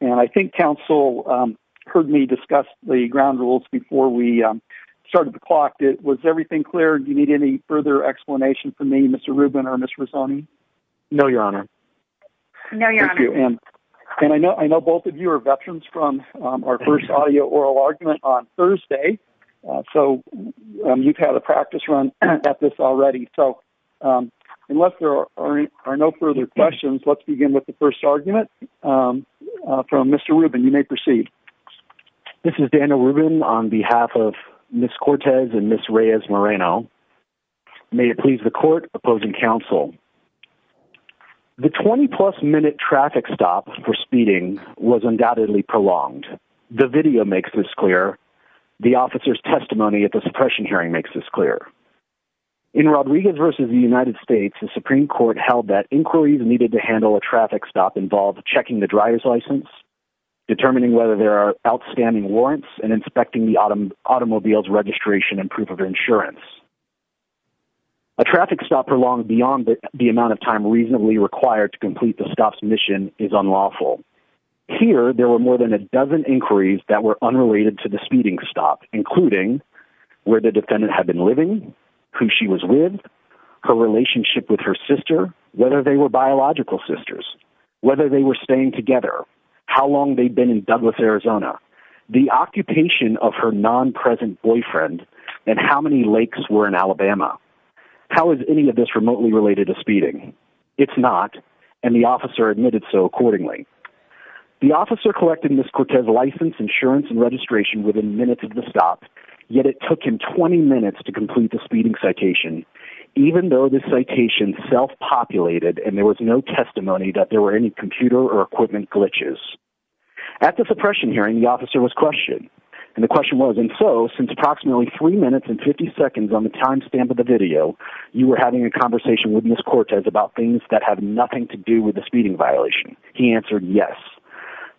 and I think counsel heard me discuss the ground rules before we started the clock, was everything clear? Do you need any further explanation from me, Mr. Rubin or Ms. Rizzoni? No your honor. No your honor. Thank you. And I know both of you are veterans from our first audio oral argument on Thursday, so you've had a practice run at this already, so unless there are no further questions, let's begin with the first argument from Mr. Rubin. You may proceed. This is Daniel Rubin on behalf of Ms. Cortez and Ms. Reyes Moreno. May it please the court opposing counsel, the 20 plus minute traffic stop for speeding was undoubtedly prolonged. The video makes this clear. The officer's testimony at the suppression hearing makes this clear. In Rodriguez v. the United States, the Supreme Court held that inquiries needed to handle a traffic stop involved checking the driver's license, determining whether there are outstanding warrants and inspecting the automobile's registration and proof of insurance. A traffic stop prolonged beyond the amount of time reasonably required to complete the stop's mission is unlawful. Here, there were more than a dozen inquiries that were unrelated to the speeding stop, including where the defendant had been living, who she was with, her relationship with her sister, whether they were biological sisters, whether they were staying together, how long they'd been in Douglas, Arizona, the occupation of her non-present boyfriend, and how many lakes were in Alabama. How is any of this remotely related to speeding? It's not, and the officer admitted so accordingly. The officer collected Ms. Cortez's license, insurance, and registration within minutes of the stop, yet it took him 20 minutes to complete the speeding citation, even though the citation self-populated and there was no testimony that there were any computer or equipment glitches. At the suppression hearing, the officer was questioned, and the question was, and so since approximately three minutes and 50 seconds on the timestamp of the video, you were having a conversation with Ms. Cortez about things that have nothing to do with the speeding violation. He answered yes.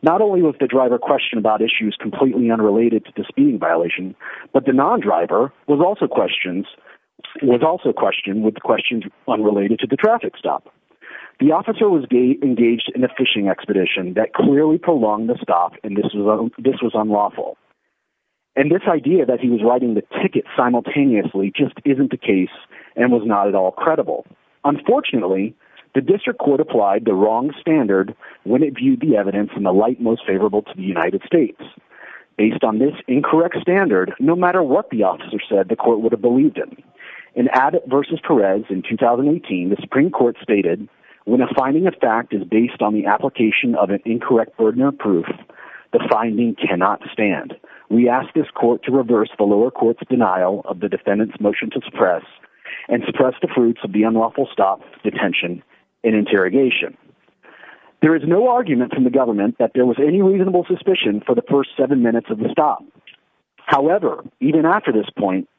Not only was the driver questioned about issues completely unrelated to the speeding violation, but the non-driver was also questioned with questions unrelated to the traffic stop. The officer was engaged in a fishing expedition that clearly prolonged the stop, and this was unlawful. And this idea that he was riding the ticket simultaneously just isn't the case and was not at all credible. Unfortunately, the district court applied the wrong standard when it viewed the evidence in the light most favorable to the United States. Based on this incorrect standard, no matter what the officer said, the court would have believed him. In Abbott versus Perez in 2018, the Supreme Court stated, when a finding of fact is based on the application of an incorrect burden of proof, the finding cannot stand. We ask this court to reverse the lower court's denial of the defendant's motion to suppress and suppress the fruits of the unlawful stop, detention, and interrogation. There is no argument from the government that there was any reasonable suspicion for the first seven minutes of the stop. However, even after this point,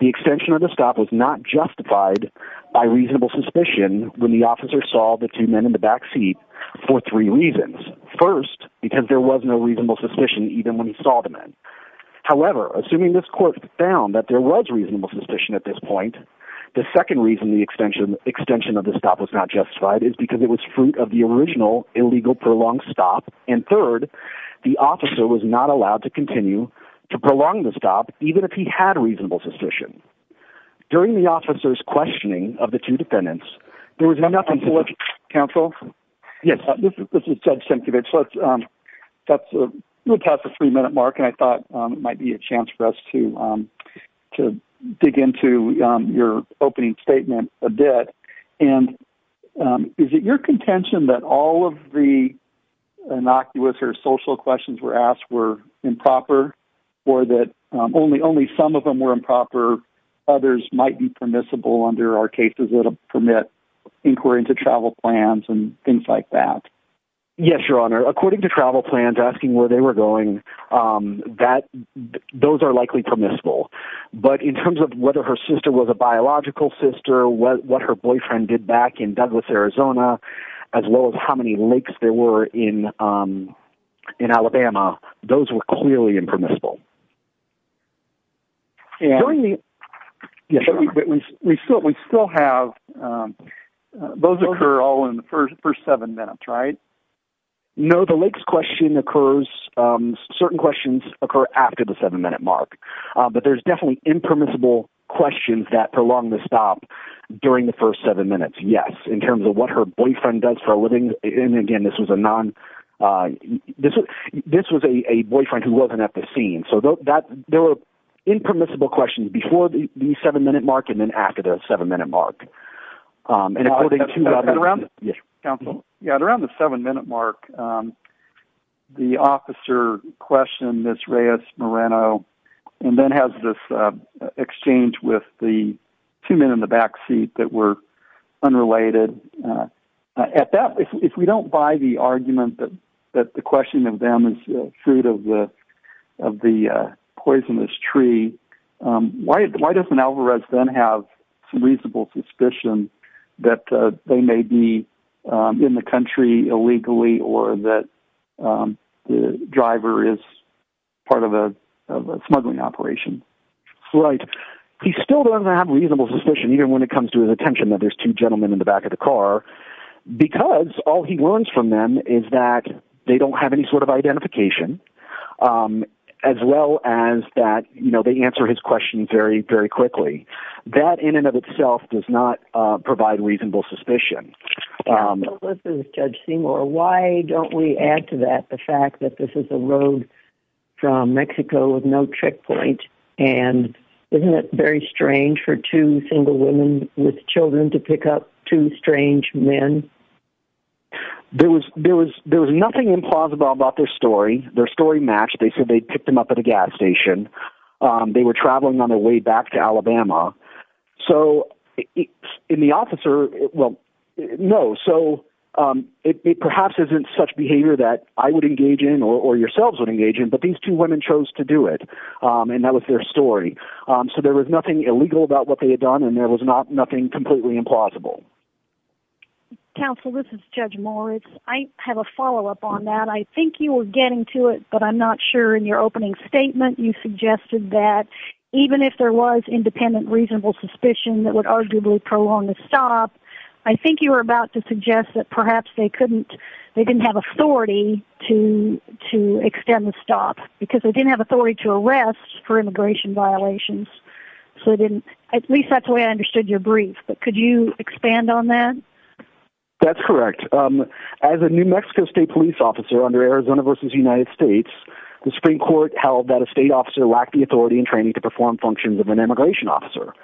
the extension of the stop was not justified by reasonable suspicion when the officer saw the two men in the back seat for three reasons. First, because there was no reasonable suspicion even when he saw the men. However, assuming this court found that there was reasonable suspicion at this point, the second reason the extension of the stop was not justified is because it was fruit of the original illegal prolonged stop. And third, the officer was not allowed to continue to prolong the stop even if he had reasonable suspicion. During the officer's questioning of the two defendants, there was enough in the court Counsel? Yes, this is Judge Sienkiewicz. Let's, um, that's a, we'll pass a three-minute mark and I thought it might be a chance for us to, um, to dig into, um, your opening statement a bit. And, um, is it your contention that all of the innocuous or social questions were asked were improper or that, um, only, only some of them were improper, others might be permissible under our cases that will permit inquiry into travel plans and things like that? Yes, Your Honor. According to travel plans, asking where they were going, um, that those are likely permissible, but in terms of whether her sister was a biological sister, what her boyfriend did back in Douglas, Arizona, as well as how many lakes there were in, um, in Alabama, those were clearly impermissible. During the... Yes, Your Honor. We still, we still have, um, those occur all in the first, first seven minutes, right? No, the lakes question occurs, um, certain questions occur after the seven-minute mark, uh, but there's definitely impermissible questions that prolong the stop during the first seven minutes, yes, in terms of what her boyfriend does for a living. And again, this was a non, uh, this was, this was a, a boyfriend who wasn't at the scene, so that, there were impermissible questions before the, the seven-minute mark and then after the seven-minute mark. Um, and according to... And around the... Yes, counsel. Yeah, around the seven-minute mark, um, the officer questioned Ms. Reyes Moreno and then has this, uh, exchange with the two men in the back seat that were unrelated, uh, at that, if, if we don't buy the argument that, that the question of them is, uh, fruit of the, of the, uh, poisonous tree, um, why, why doesn't Alvarez then have some reasonable suspicion that, uh, they may be, um, in the country illegally or that, um, the driver is part of a, of a smuggling operation? Right. He still doesn't have reasonable suspicion, even when it comes to his attention that there's two gentlemen in the back of the car, because all he learns from them is that they don't have any sort of identification, um, as well as that, you know, they answer his questions very, very quickly. That in and of itself does not, uh, provide reasonable suspicion. Um... But listen, Judge Seymour, why don't we add to that the fact that this is a road from Mexico with no checkpoint and isn't it very strange for two single women with children to pick up two strange men? There was, there was, there was nothing implausible about their story. Their story matched. They said they picked them up at a gas station. Um, they were traveling on their way back to Alabama. So in the officer, well, no. So, um, it, it perhaps isn't such behavior that I would engage in or, or yourselves would engage in, but these two women chose to do it. Um, and that was their story. Um, so there was nothing illegal about what they had done and there was not nothing completely implausible. Counsel, this is Judge Moritz. I have a follow-up on that. I think you were getting to it, but I'm not sure in your opening statement, you suggested that even if there was independent, reasonable suspicion that would arguably prolong the stop, I think you were about to suggest that perhaps they couldn't, they didn't have authority to, to extend the stop because they didn't have authority to arrest for immigration violations. So I didn't, at least that's the way I understood your brief, but could you expand on that? That's correct. Um, as a New Mexico state police officer under Arizona versus United States, the Supreme Court held that a state officer lacked the authority and training to perform functions of an immigration officer.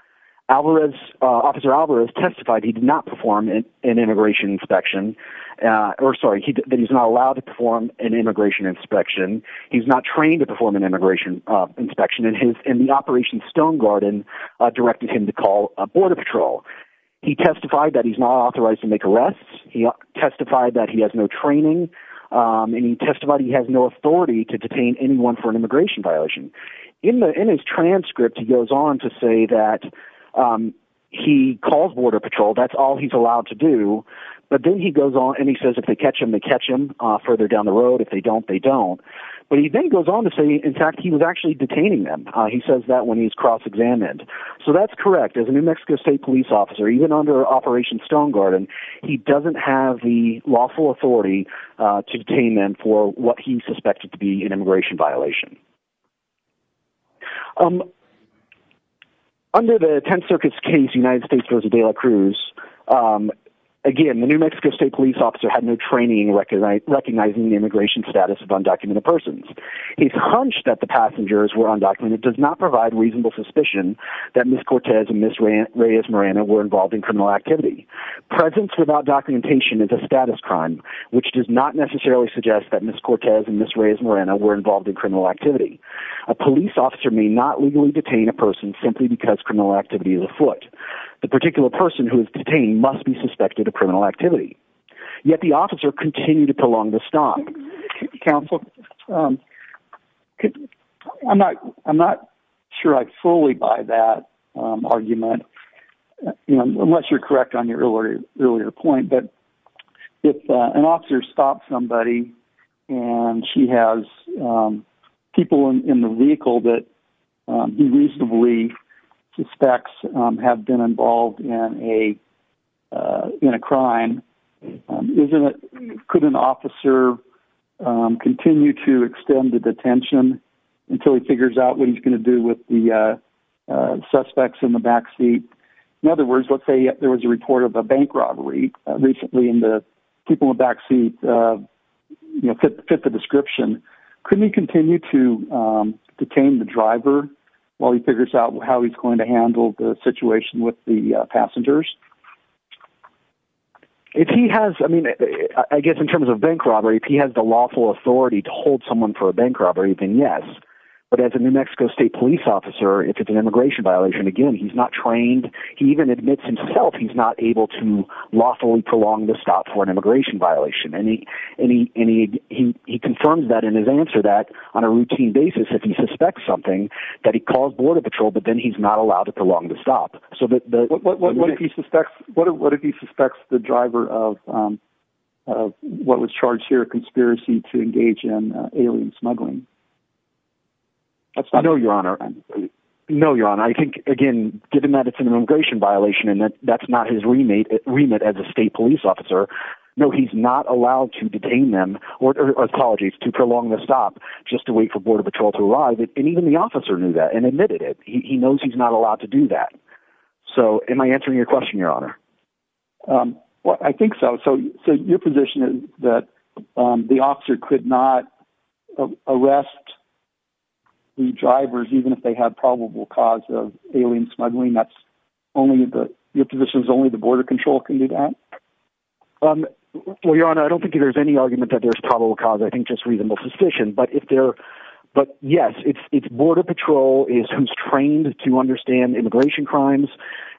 Alvarez, uh, officer Alvarez testified. He did not perform an, an immigration inspection, uh, or sorry, he, that he's not allowed to perform an immigration inspection. He's not trained to perform an immigration, uh, inspection in his, in the operation stone garden, uh, directed him to call a border patrol. He testified that he's not authorized to make arrests. He testified that he has no training. Um, and he testified he has no authority to detain anyone for an immigration violation in the, in his transcript. He goes on to say that, um, he called border patrol. That's all he's allowed to do. But then he goes on and he says, if they catch him, they catch him, uh, further down the But he then goes on to say, in fact, he was actually detaining them. Uh, he says that when he's cross-examined. So that's correct. As a New Mexico state police officer, even under operation stone garden, he doesn't have the lawful authority, uh, to detain them for what he suspected to be an immigration violation. Um, under the 10 circuits case, United States goes to Dela Cruz. Um, again, the New Mexico state police officer had no training in recognizing the immigration status of undocumented persons. He's hunched that the passengers were undocumented, does not provide reasonable suspicion that Ms. Cortez and Ms. Reyes-Morana were involved in criminal activity. Presence without documentation is a status crime, which does not necessarily suggest that Ms. Cortez and Ms. Reyes-Morana were involved in criminal activity. A police officer may not legally detain a person simply because criminal activity is afoot. The particular person who is detained must be suspected of criminal activity. Yet the officer continued to prolong the stop. Counsel, um, I'm not, I'm not sure I fully buy that, um, argument, you know, unless you're correct on your earlier, earlier point. But if, uh, an officer stopped somebody and she has, um, people in the vehicle that, um, unreasonably suspects, um, have been involved in a, uh, in a crime, um, isn't it, could an officer, um, continue to extend the detention until he figures out what he's going to do with the, uh, uh, suspects in the backseat? In other words, let's say there was a report of a bank robbery recently and the people in the backseat, uh, you know, fit the description. Couldn't he continue to, um, detain the driver while he figures out how he's going to handle the situation with the passengers? If he has, I mean, I guess in terms of bank robbery, if he has the lawful authority to hold someone for a bank robbery, then yes. But as a New Mexico state police officer, if it's an immigration violation, again, he's not trained. He even admits himself. He's not able to lawfully prolong the stop for an immigration violation. And he, and he, and he, he, he confirmed that in his answer that on a routine basis, if he suspects something that he calls border patrol, but then he's not allowed to prolong the stop. So the, what, what, what, what if he suspects, what, what if he suspects the driver of, um, of what was charged here, conspiracy to engage in alien smuggling? That's not, I know your honor. No, your honor. I think again, given that it's an immigration violation and that that's not his remit remit as a state police officer, no, he's not allowed to detain them or apologies to prolong the stop just to wait for border patrol to arrive. And even the officer knew that and admitted it. He knows he's not allowed to do that. So am I answering your question, your honor? Um, well, I think so. So, so your position is that, um, the officer could not arrest the drivers, even if they had probable cause of alien smuggling. That's only the, your position is only the border control can do that. Um, well, your honor, I don't think there's any argument that there's probable cause. I think just reasonable suspicion, but if there, but yes, it's, it's border patrol is who's trained to understand immigration crimes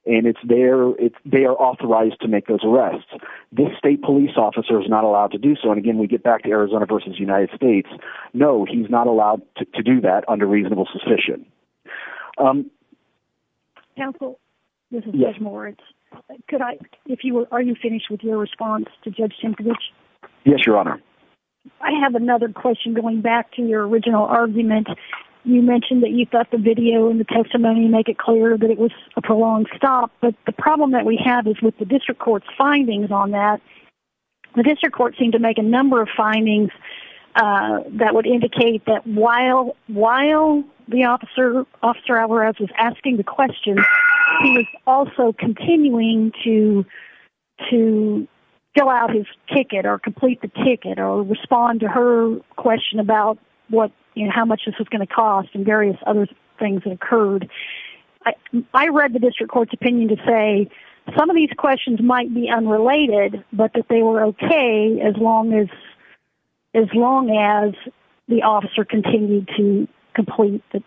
and it's there. It's, they are authorized to make those arrests. This state police officer is not allowed to do so. And again, we get back to Arizona versus United States. No, he's not allowed to do that under reasonable suspicion. Um, yes, more. Could I, if you were, are you finished with your response to judge? Yes, your honor. I have another question going back to your original argument. You mentioned that you've got the video in the testimony and make it clear that it was a prolonged stop. But the problem that we have is with the district court findings on that. The district court seemed to make a number of findings, uh, that would indicate that while, while the officer officer Alvarez was asking the question, he was also continuing to, to fill out his ticket or complete the ticket or respond to her question about what, you know, how much this was going to cost and various other things that occurred. I read the district court's opinion to say some of these questions might be unrelated, but that they were okay. As long as, as long as the officer continued to complete the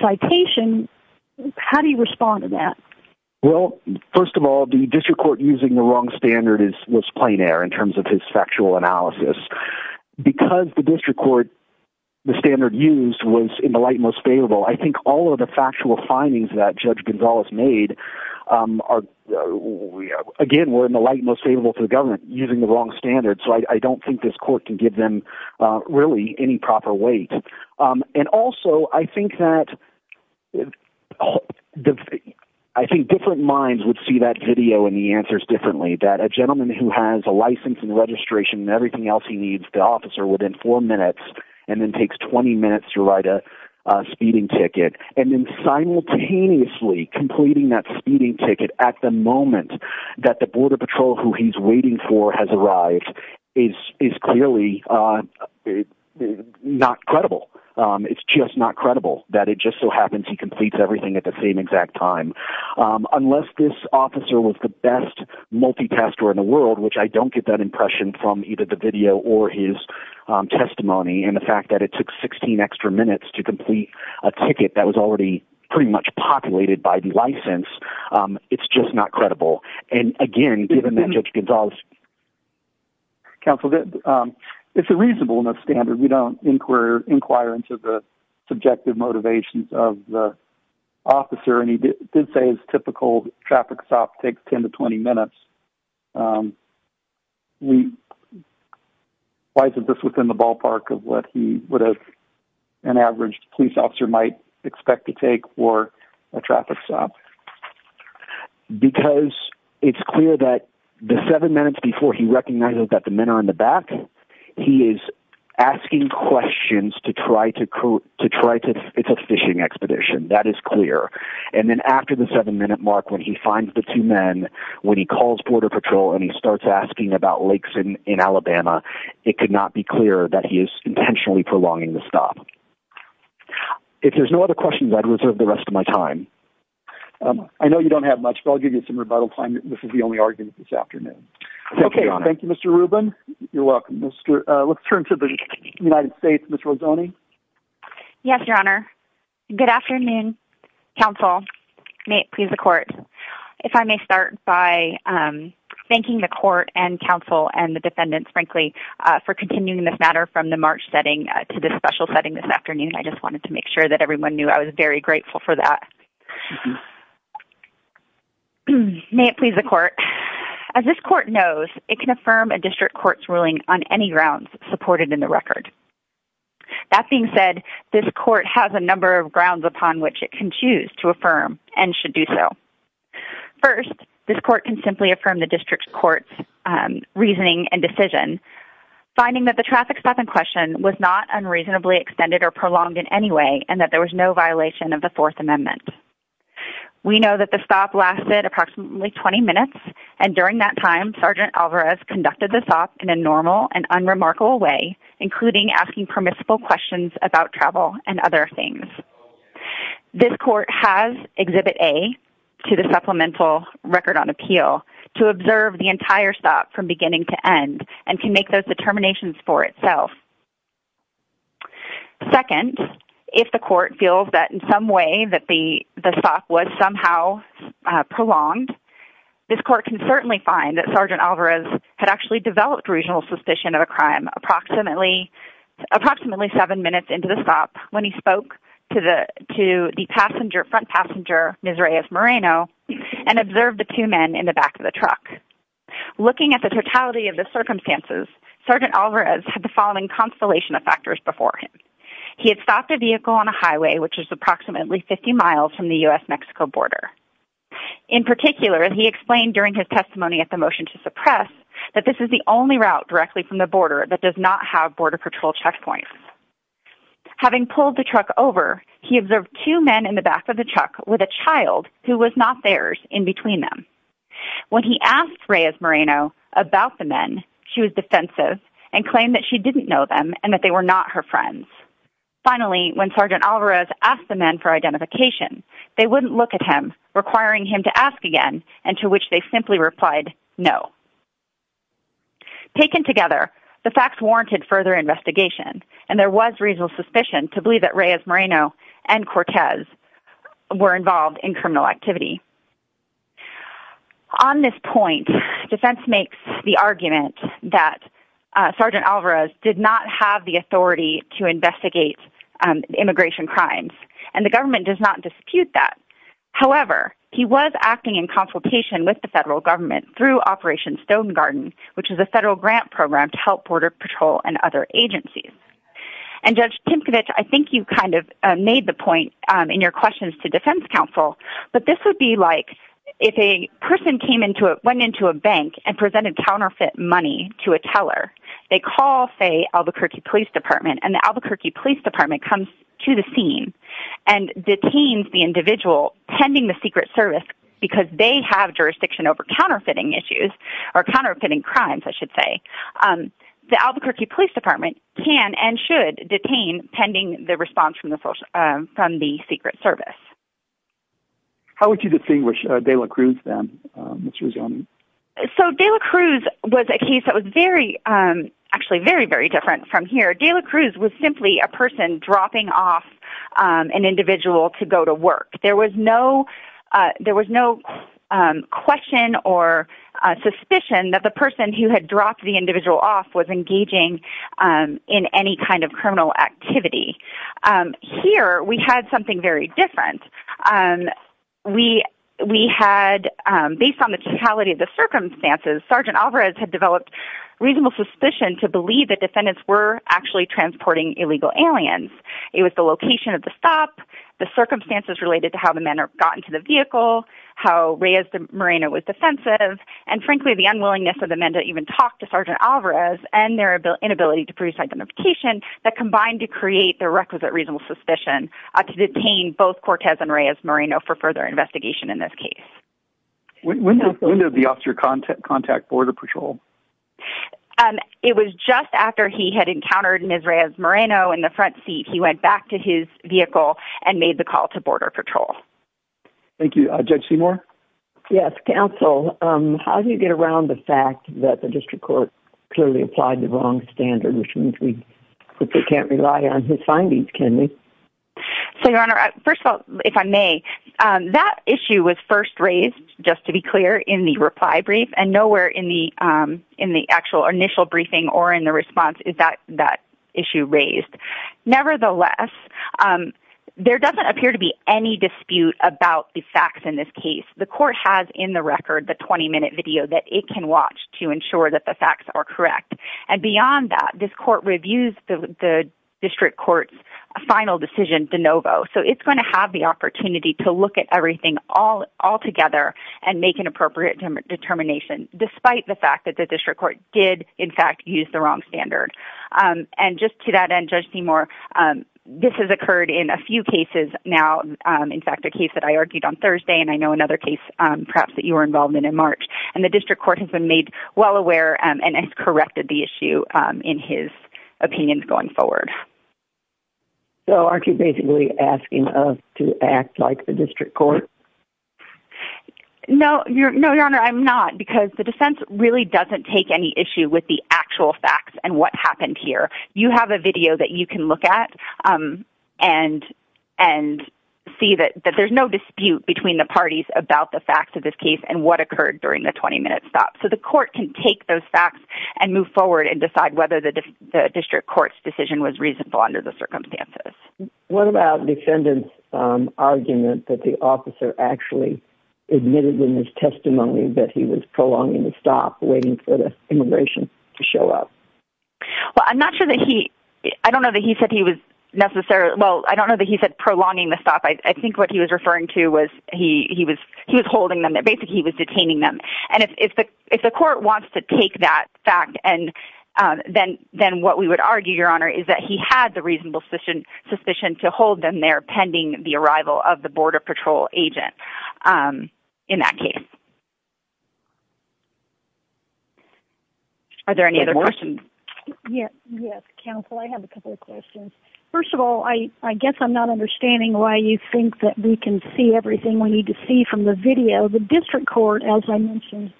citation, how do you respond to that? Well, first of all, the district court using the wrong standard is was plain air in terms of his factual analysis because the district court, the standard used was in the light, most favorable. I think all of the factual findings that judge Gonzalez made, um, are, uh, again, we're in the light, most favorable to the government using the wrong standard. So I don't think this court can give them, uh, really any proper weight. Um, and also I think that I think different minds would see that video and the answers differently that a gentleman who has a license and registration and everything else he needs the officer within four minutes, and then takes 20 minutes to write a speeding ticket. And then simultaneously completing that speeding ticket at the moment that the border patrol, who he's waiting for has arrived is, is clearly, uh, not credible. Um, it's just not credible that it just so happens. He completes everything at the same exact time. Um, unless this officer was the best multitasker in the world, which I don't get that impression from either the video or his, um, testimony. And the fact that it took 16 extra minutes to complete a ticket that was already pretty much populated by the license. Um, it's just not credible. And again, given that judge Gonzalez counsel, that, um, it's a reasonable enough standard. We don't inquire, inquire into the subjective motivations of the officer. And he did say his typical traffic stop takes 10 to 20 minutes. Um, we, why isn't this within the ballpark of what he would have an average police officer might expect to take or a traffic stop? Because it's clear that the seven minutes before he recognized that the men are in the back, he is asking questions to try to, to try to, it's a fishing expedition. That is clear. And then after the seven minute Mark, when he finds the two men, when he calls border patrol and he starts asking about lakes in, in Alabama, it could not be clear that he is intentionally prolonging the stop. If there's no other questions, I'd reserve the rest of my time. I know you don't have much, but I'll give you some rebuttal time. This is the only argument this afternoon. Okay. Thank you, Mr. Rubin. You're welcome. Mr. Uh, let's turn to the United States. Yes, your honor. Good afternoon. Counsel may please the court. If I may start by, um, thanking the court and counsel and the defendants, frankly, uh, for continuing this matter from the March setting to this special setting this afternoon. I just wanted to make sure that everyone knew I was very grateful for that. May it please the court as this court knows it can affirm a district court's ruling on any grounds supported in the record. That being said, this court has a number of grounds upon which it can choose to affirm and should do. First, this court can simply affirm the district court's reasoning and decision finding that the traffic stop in question was not unreasonably extended or prolonged in any way. And that there was no violation of the fourth amendment. We know that the stop lasted approximately 20 minutes. And during that time, Sergeant Alvarez conducted this off in a normal and unremarkable way, including asking permissible questions about travel and other things. This court has exhibit A to the supplemental record on appeal to observe the entire stop from beginning to end and can make those determinations for itself. Second, if the court feels that in some way that the stop was somehow prolonged, this court can certainly find that Sergeant Alvarez had actually developed regional suspicion of a crime approximately approximately seven minutes into the stop when he spoke to the to the passenger front passenger, Ms. Reyes Moreno, and observed the two men in the back of the truck. Looking at the totality of the circumstances, Sergeant Alvarez had the following constellation of factors before him. He had stopped a vehicle on a highway, which is approximately 50 miles from the U.S. Mexico border. In particular, he explained during his testimony at the motion to suppress that this is the route directly from the border that does not have border patrol checkpoints. Having pulled the truck over, he observed two men in the back of the truck with a child who was not theirs in between them. When he asked Reyes Moreno about the men, she was defensive and claimed that she didn't know them and that they were not her friends. Finally, when Sergeant Alvarez asked the men for identification, they wouldn't look at him, requiring him to ask again and to which they simply replied no. Taken together, the facts warranted further investigation, and there was reasonable suspicion to believe that Reyes Moreno and Cortez were involved in criminal activity. On this point, defense makes the argument that Sergeant Alvarez did not have the authority to investigate immigration crimes, and the government does not dispute that. However, he was acting in consultation with the federal government through Operation Stonegarden, which is a federal grant program to help Border Patrol and other agencies. And Judge Timkovich, I think you kind of made the point in your questions to Defense Counsel, but this would be like if a person went into a bank and presented counterfeit money to a teller, they call, say, Albuquerque Police Department, and the Albuquerque Police Department comes to the scene and detains the individual pending the secret service because they have jurisdiction over counterfeiting issues, or counterfeiting crimes, I should say, the Albuquerque Police Department can and should detain pending the response from the secret service. How would you distinguish De La Cruz then? So De La Cruz was a case that was very, actually very, very different from here. De La Cruz was simply a person dropping off an individual to go to work. There was no question or suspicion that the person who had dropped the individual off was engaging in any kind of criminal activity. Here, we had something very different. We had, based on the totality of the circumstances, Sergeant Alvarez had developed reasonable suspicion to believe that defendants were actually transporting illegal aliens. It was the location of the stop, the circumstances related to how the men got into the vehicle, how Reyes Moreno was defensive, and frankly, the unwillingness of the men to even talk to Sergeant Alvarez and their inability to produce identification that combined to create the requisite reasonable suspicion to detain both Cortez and Reyes Moreno for further investigation in this case. When did the officer contact Border Patrol? It was just after he had encountered Reyes Moreno in the front seat. He went back to his vehicle and made the call to Border Patrol. Thank you. Judge Seymour? Yes, counsel, how do you get around the fact that the district court clearly applied the wrong standard, which means we can't rely on his findings, can we? So, Your Honor, first of all, if I may, that issue was first raised, just to be clear, in the reply brief and nowhere in the actual initial briefing or in the response is that issue raised. Nevertheless, there doesn't appear to be any dispute about the facts in this case. The court has in the record the 20-minute video that it can watch to ensure that the facts are correct. And beyond that, this court reviews the district court's final decision de novo. So it's going to have the opportunity to look at everything altogether and make an appropriate determination, despite the fact that the district court did, in fact, use the wrong standard. And just to that end, Judge Seymour, this has occurred in a few cases now, in fact, a case that I argued on Thursday and I know another case perhaps that you were involved in in March. And the district court has been made well aware and has corrected the issue in his opinions going forward. So aren't you basically asking us to act like the district court? No, Your Honor, I'm not, because the defense really doesn't take any issue with the actual facts and what happened here. You have a video that you can look at and see that there's no dispute between the parties about the facts of this case and what occurred during the 20-minute stop. So the court can take those facts and move forward and decide whether the district court's decision was reasonable under the circumstances. What about the defendant's argument that the officer actually admitted in his testimony that he was prolonging the stop, waiting for the immigration to show up? Well, I'm not sure that he... I don't know that he said he was necessarily... Well, I don't know that he said prolonging the stop. I think what he was referring to was he was holding them. Basically, he was detaining them. And if the court wants to take that fact, then what we would argue, Your Honor, is that he had the reasonable suspicion to hold them there pending the arrival of the Border Patrol agent in that case. Are there any other questions? Yes, counsel, I have a couple of questions. First of all, I guess I'm not understanding why you think that we can see everything we need to see from the video. The district court, as I mentioned,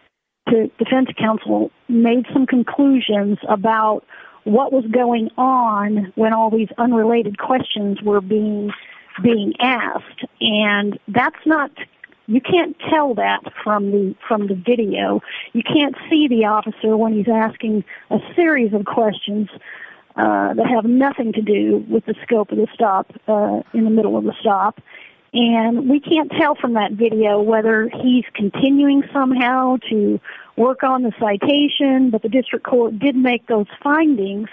the defense counsel, made some conclusions about what was going on when all these unrelated questions were being asked. And that's not... You can't tell that from the video. You can't see the officer when he's asking a series of questions that have nothing to do with the scope of the stop, in the middle of the stop. And we can't tell from that video whether he's continuing somehow to work on the citation. But the district court did make those findings.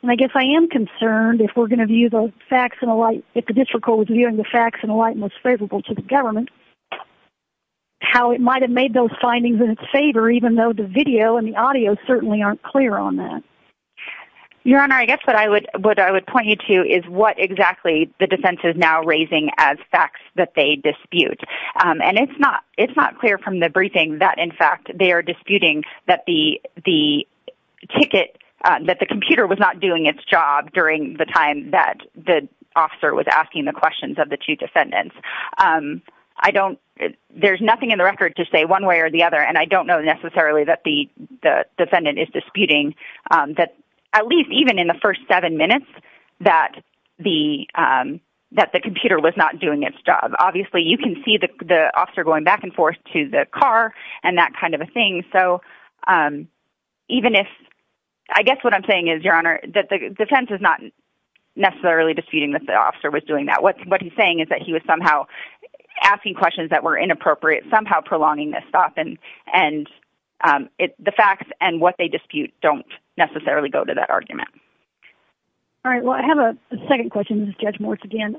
And I guess I am concerned if we're going to view those facts in a light... If the district court is viewing the facts in a light most favorable to the government, how it might have made those findings in its favor, even though the video and the audio certainly aren't clear on that. Your Honor, I guess what I would point you to is what exactly the defense is now raising as facts that they dispute. And it's not clear from the briefing that, in fact, they are disputing that the computer was not doing its job during the time that the officer was asking the questions of the two defendants. There's nothing in the record to say one way or the other. And I don't know necessarily that the defendant is disputing that, at least even in the first seven minutes, that the computer was not doing its job. Obviously, you can see the officer going back and forth to the car and that kind of a thing. So even if... I guess what I'm saying is, Your Honor, that the defense is not necessarily disputing that the officer was doing that. What he's saying is that he was somehow asking questions that were inappropriate, somehow prolonging this stop. And the facts and what they dispute don't necessarily go to that argument. All right. Well, I have a second question. This is Judge Moritz again.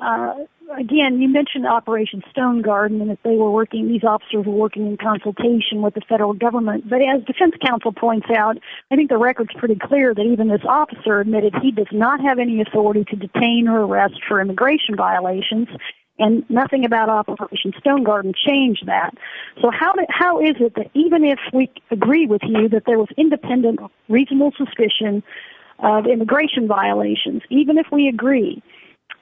You mentioned Operation Stonegarden, and these officers were working in consultation with the federal government. But as Defense Counsel points out, I think the record's pretty clear that even this officer admitted he does not have any authority to detain or arrest for immigration violations, and nothing about Operation Stonegarden changed that. So how is it that even if we agree with you that there was independent, reasonable suspicion of immigration violations, even if we agree,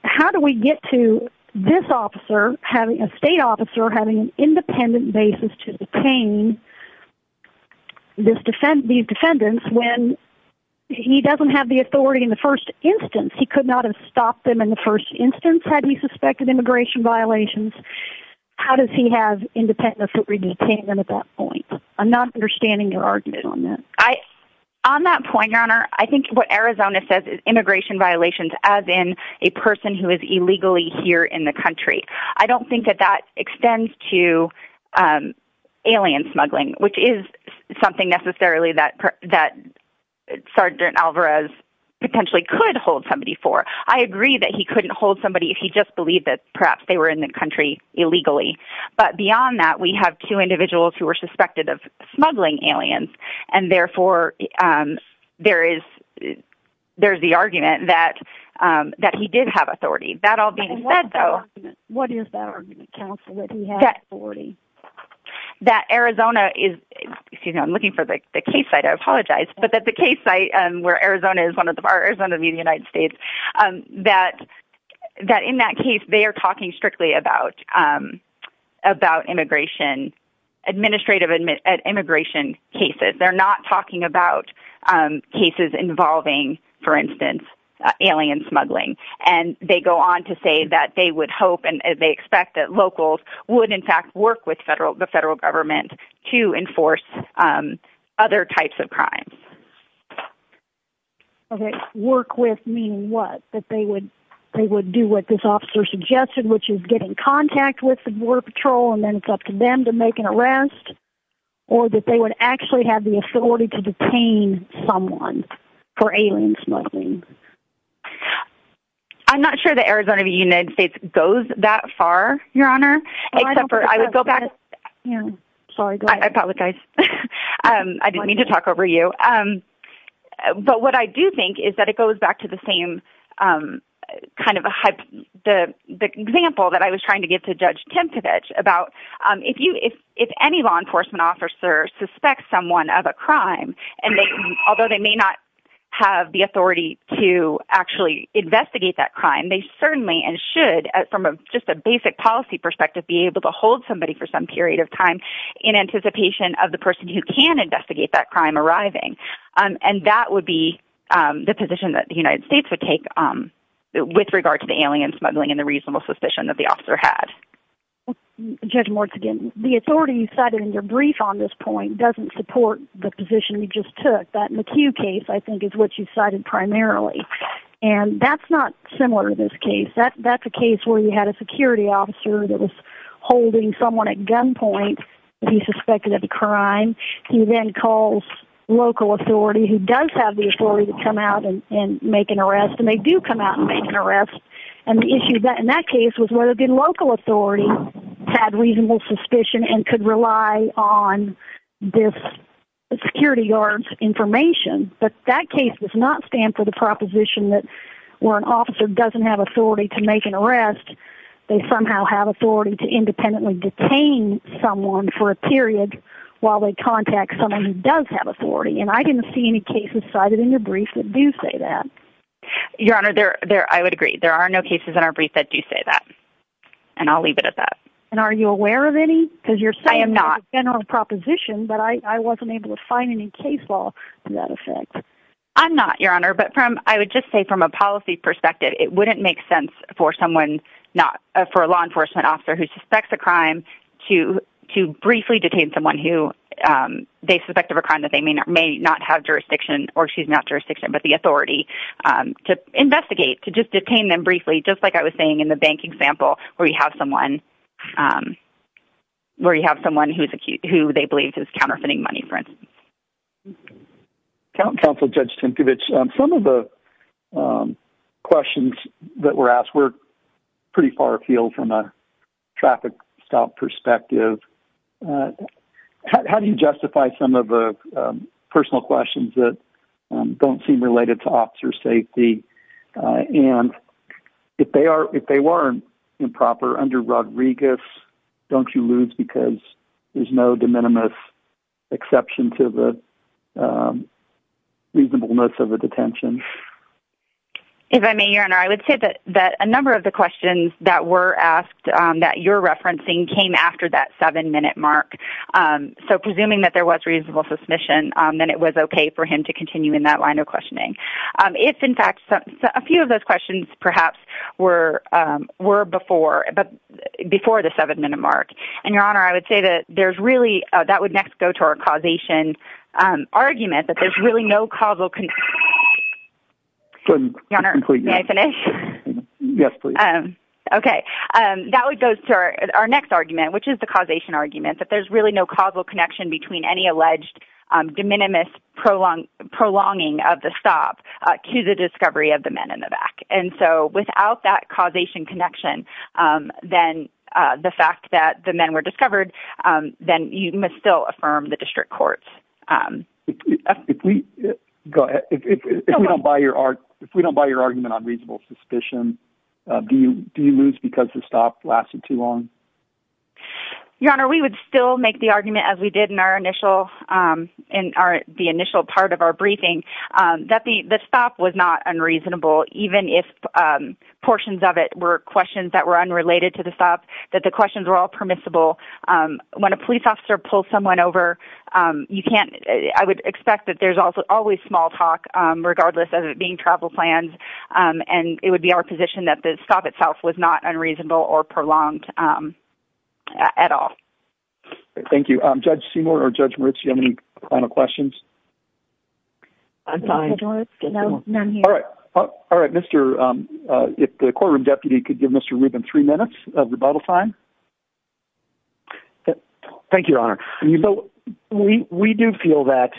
how do we get to this officer, a state officer, having an independent basis to detain these defendants when he doesn't have the authority in the first instance? He could not have stopped them in the first instance had he suspected immigration violations. How does he have independence to detain them at that point? I'm not understanding your argument on that. On that point, Your Honor, I think what Arizona says is immigration violations as in a person who is illegally here in the country. I don't think that that extends to alien smuggling, which is something necessarily that Sergeant Alvarez potentially could hold somebody for. I agree that he couldn't hold somebody if he just believed that perhaps they were in the country illegally. But beyond that, we have two individuals who were suspected of smuggling aliens, and therefore there is the argument that he did have authority. That all being said, though, What is that argument, counsel, that he had authority? That Arizona is, excuse me, I'm looking for the case site. I apologize. But that the case site where Arizona is one of the, Arizona v. United States, that in that case, they are talking strictly about immigration, administrative immigration cases. They're not talking about cases involving, for instance, alien smuggling. And they go on to say that they would hope and they expect that locals would, in fact, work with the federal government to enforce other types of crimes. Okay. Work with meaning what? That they would do what this officer suggested, which is get in contact with the Border Patrol and then it's up to them to make an arrest. Or that they would actually have the authority to detain someone for alien smuggling. I'm not sure that Arizona v. United States goes that far, Your Honor, except for I would go back. I apologize. I didn't mean to talk over you. But what I do think is that it goes back to the same kind of the example that I was trying to give to Judge Tempevich about if any law enforcement officer suspects someone of a crime, and although they may not have the authority to actually investigate that crime, they certainly and should, from just a basic policy perspective, be able to hold somebody for some period of time in anticipation of the person who can investigate that crime arriving. And that would be the position that the United States would take with regard to the alien smuggling and the reasonable suspicion that the officer had. Judge Morton, again, the authority you cited in your brief on this point doesn't support the position you just took. That McHugh case, I think, is what you cited primarily. And that's not similar to this case. That's a case where you had a security officer that was holding someone at gunpoint who suspected of a crime. He then calls local authority who does have the authority to come out and make an arrest, and they do come out and make an arrest. And the issue in that case was whether the local authority had reasonable suspicion and could rely on this security guard's information. But that case does not stand for the proposition that where an officer doesn't have authority to make an arrest, they somehow have authority to independently detain someone for a period while they contact someone who does have authority. And I didn't see any cases cited in your brief that do say that. Your Honor, I would agree. There are no cases in our brief that do say that. And I'll leave it at that. And are you aware of any? Because you're saying there's a general proposition, but I wasn't able to find any case law in that effect. I'm not, Your Honor. But I would just say from a policy perspective, it wouldn't make sense for a law enforcement officer who suspects a crime to briefly detain someone who they suspect of a crime that they may not have jurisdiction, or excuse me, not jurisdiction, but the authority to investigate, to just detain them briefly, just like I was saying in the bank example where you have someone who they believe is counterfeiting money, for instance. Counsel Judge Tinkovich, some of the questions that were asked were pretty far afield from a traffic stop perspective. How do you justify some of the personal questions that don't seem related to officer safety? And if they were improper under Rodriguez, don't you lose because there's no de minimis exception to the reasonableness of a detention? If I may, Your Honor, I would say that a number of the questions that were asked that you're referencing came after that seven-minute mark. So presuming that there was reasonable suspicion, then it was okay for him to continue in that line of questioning. If, in fact, a few of those questions perhaps were before the seven-minute mark. And, Your Honor, I would say that there's really, that would next go to our causation argument, that there's really no causal connection between any alleged de minimis prolonging of the stop to the discovery of the men in the back. And so without that causation connection, then the fact that the men were discovered, then you must still affirm the district courts. If we don't buy your argument on reasonable suspicion, do you lose because the stop lasted too long? Your Honor, we would still make the argument as we did in our initial, in the initial part of our briefing, that the stop was not unreasonable, even if portions of it were questions that were unrelated to the stop, that the questions were all permissible. When a police officer pulls someone over, you can't, I would expect that there's always small talk, regardless of it being travel plans, and it would be our position that the stop itself was not unreasonable or prolonged at all. Thank you. Judge Seymour or Judge Marucci, do you have any final questions? I'm fine. All right, Mr., if the courtroom deputy could give Mr. Rubin three minutes of rebuttal time. Thank you, Your Honor. We do feel that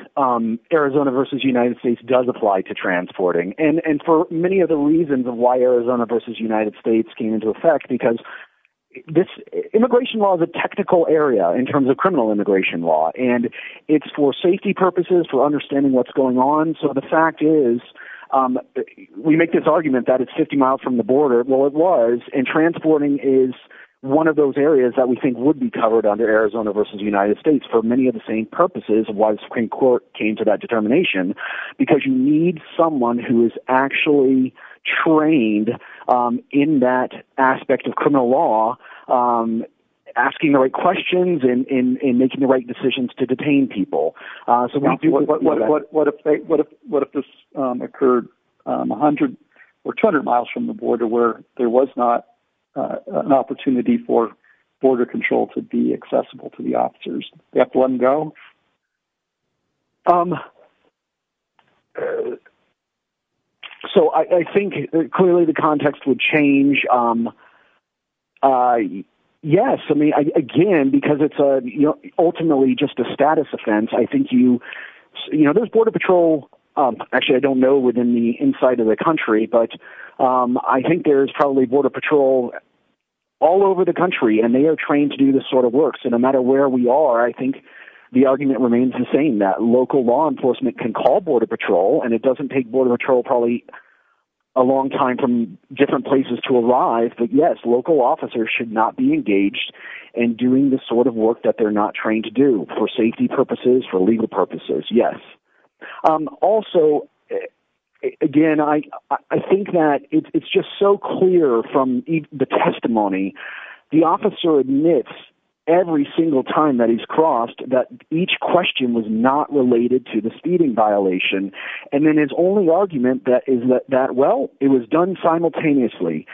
Arizona versus United States does apply to transporting, and for many of the reasons of why Arizona versus United States came into effect, because this immigration law is a technical area in terms of criminal immigration law, and it's for safety purposes, for understanding what's going on. So the fact is, we make this argument that it's 50 miles from the border. Well, it was, and transporting is one of those areas that we think would be covered under Arizona versus United States for many of the same purposes of why the Supreme Court came to that determination, because you need someone who is actually trained in that aspect of criminal law, asking the right questions and making the right decisions to detain people. So what if this occurred 100 or 200 miles from the border where there was not an opportunity for border control to be accessible to the officers? They have to let them go? So I think, clearly, the context would change. Yes, I mean, again, because it's ultimately just a status offense. I think you... You know, there's border patrol, actually, I don't know within the inside of the country, but I think there's probably border patrol all over the country, and they are trained to do this sort of work. So no matter where we are, I think the argument remains the same, that local law enforcement can call border patrol, and it doesn't take border patrol probably a long time from different places to arrive, but yes, local officers should not be engaged in doing the sort of work that they're not trained to do for safety purposes, for legal purposes, yes. Also, again, I think that it's just so clear from the testimony, the officer admits every single time that he's crossed that each question was not related to the speeding violation, and then his only argument is that, well, it was done simultaneously.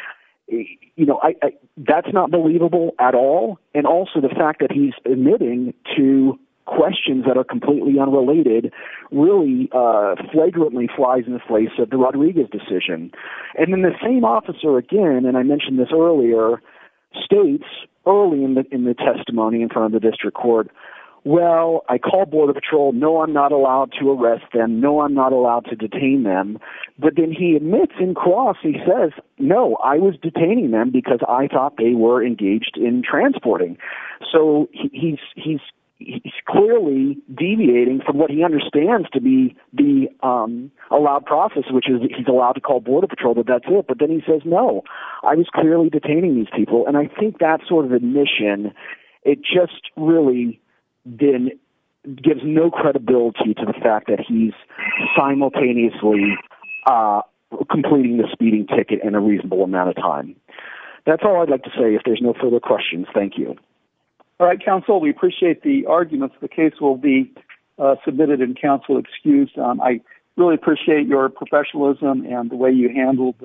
That's not believable at all, and also the fact that he's admitting to questions that are completely unrelated really flagrantly flies in the face of the Rodriguez decision. And then the same officer, again, and I mentioned this earlier, states early in the testimony in front of the district court, well, I call border patrol, no, I'm not allowed to arrest them, no, I'm not allowed to detain them, but then he admits in cross, he says, no, I was detaining them because I thought they were engaged in transporting. So he's clearly deviating from what he understands to be the allowed process, which is he's allowed to call border patrol, but that's it, but then he says, no, I was clearly detaining these people, and I think that sort of admission, it just really gives no credibility to the fact that he's simultaneously completing the speeding ticket in a reasonable amount of time. That's all I'd like to say. If there's no further questions, thank you. All right, counsel, we appreciate the arguments. The case will be submitted and counsel excused. I really appreciate your professionalism and the way you handled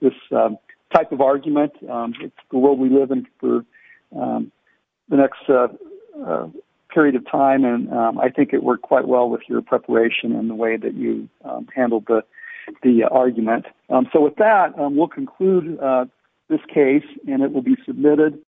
this type of argument, the world we live in for the next period of time. And I think it worked quite well with your preparation and the way that you handled the argument. So with that, we'll conclude this case and it will be submitted.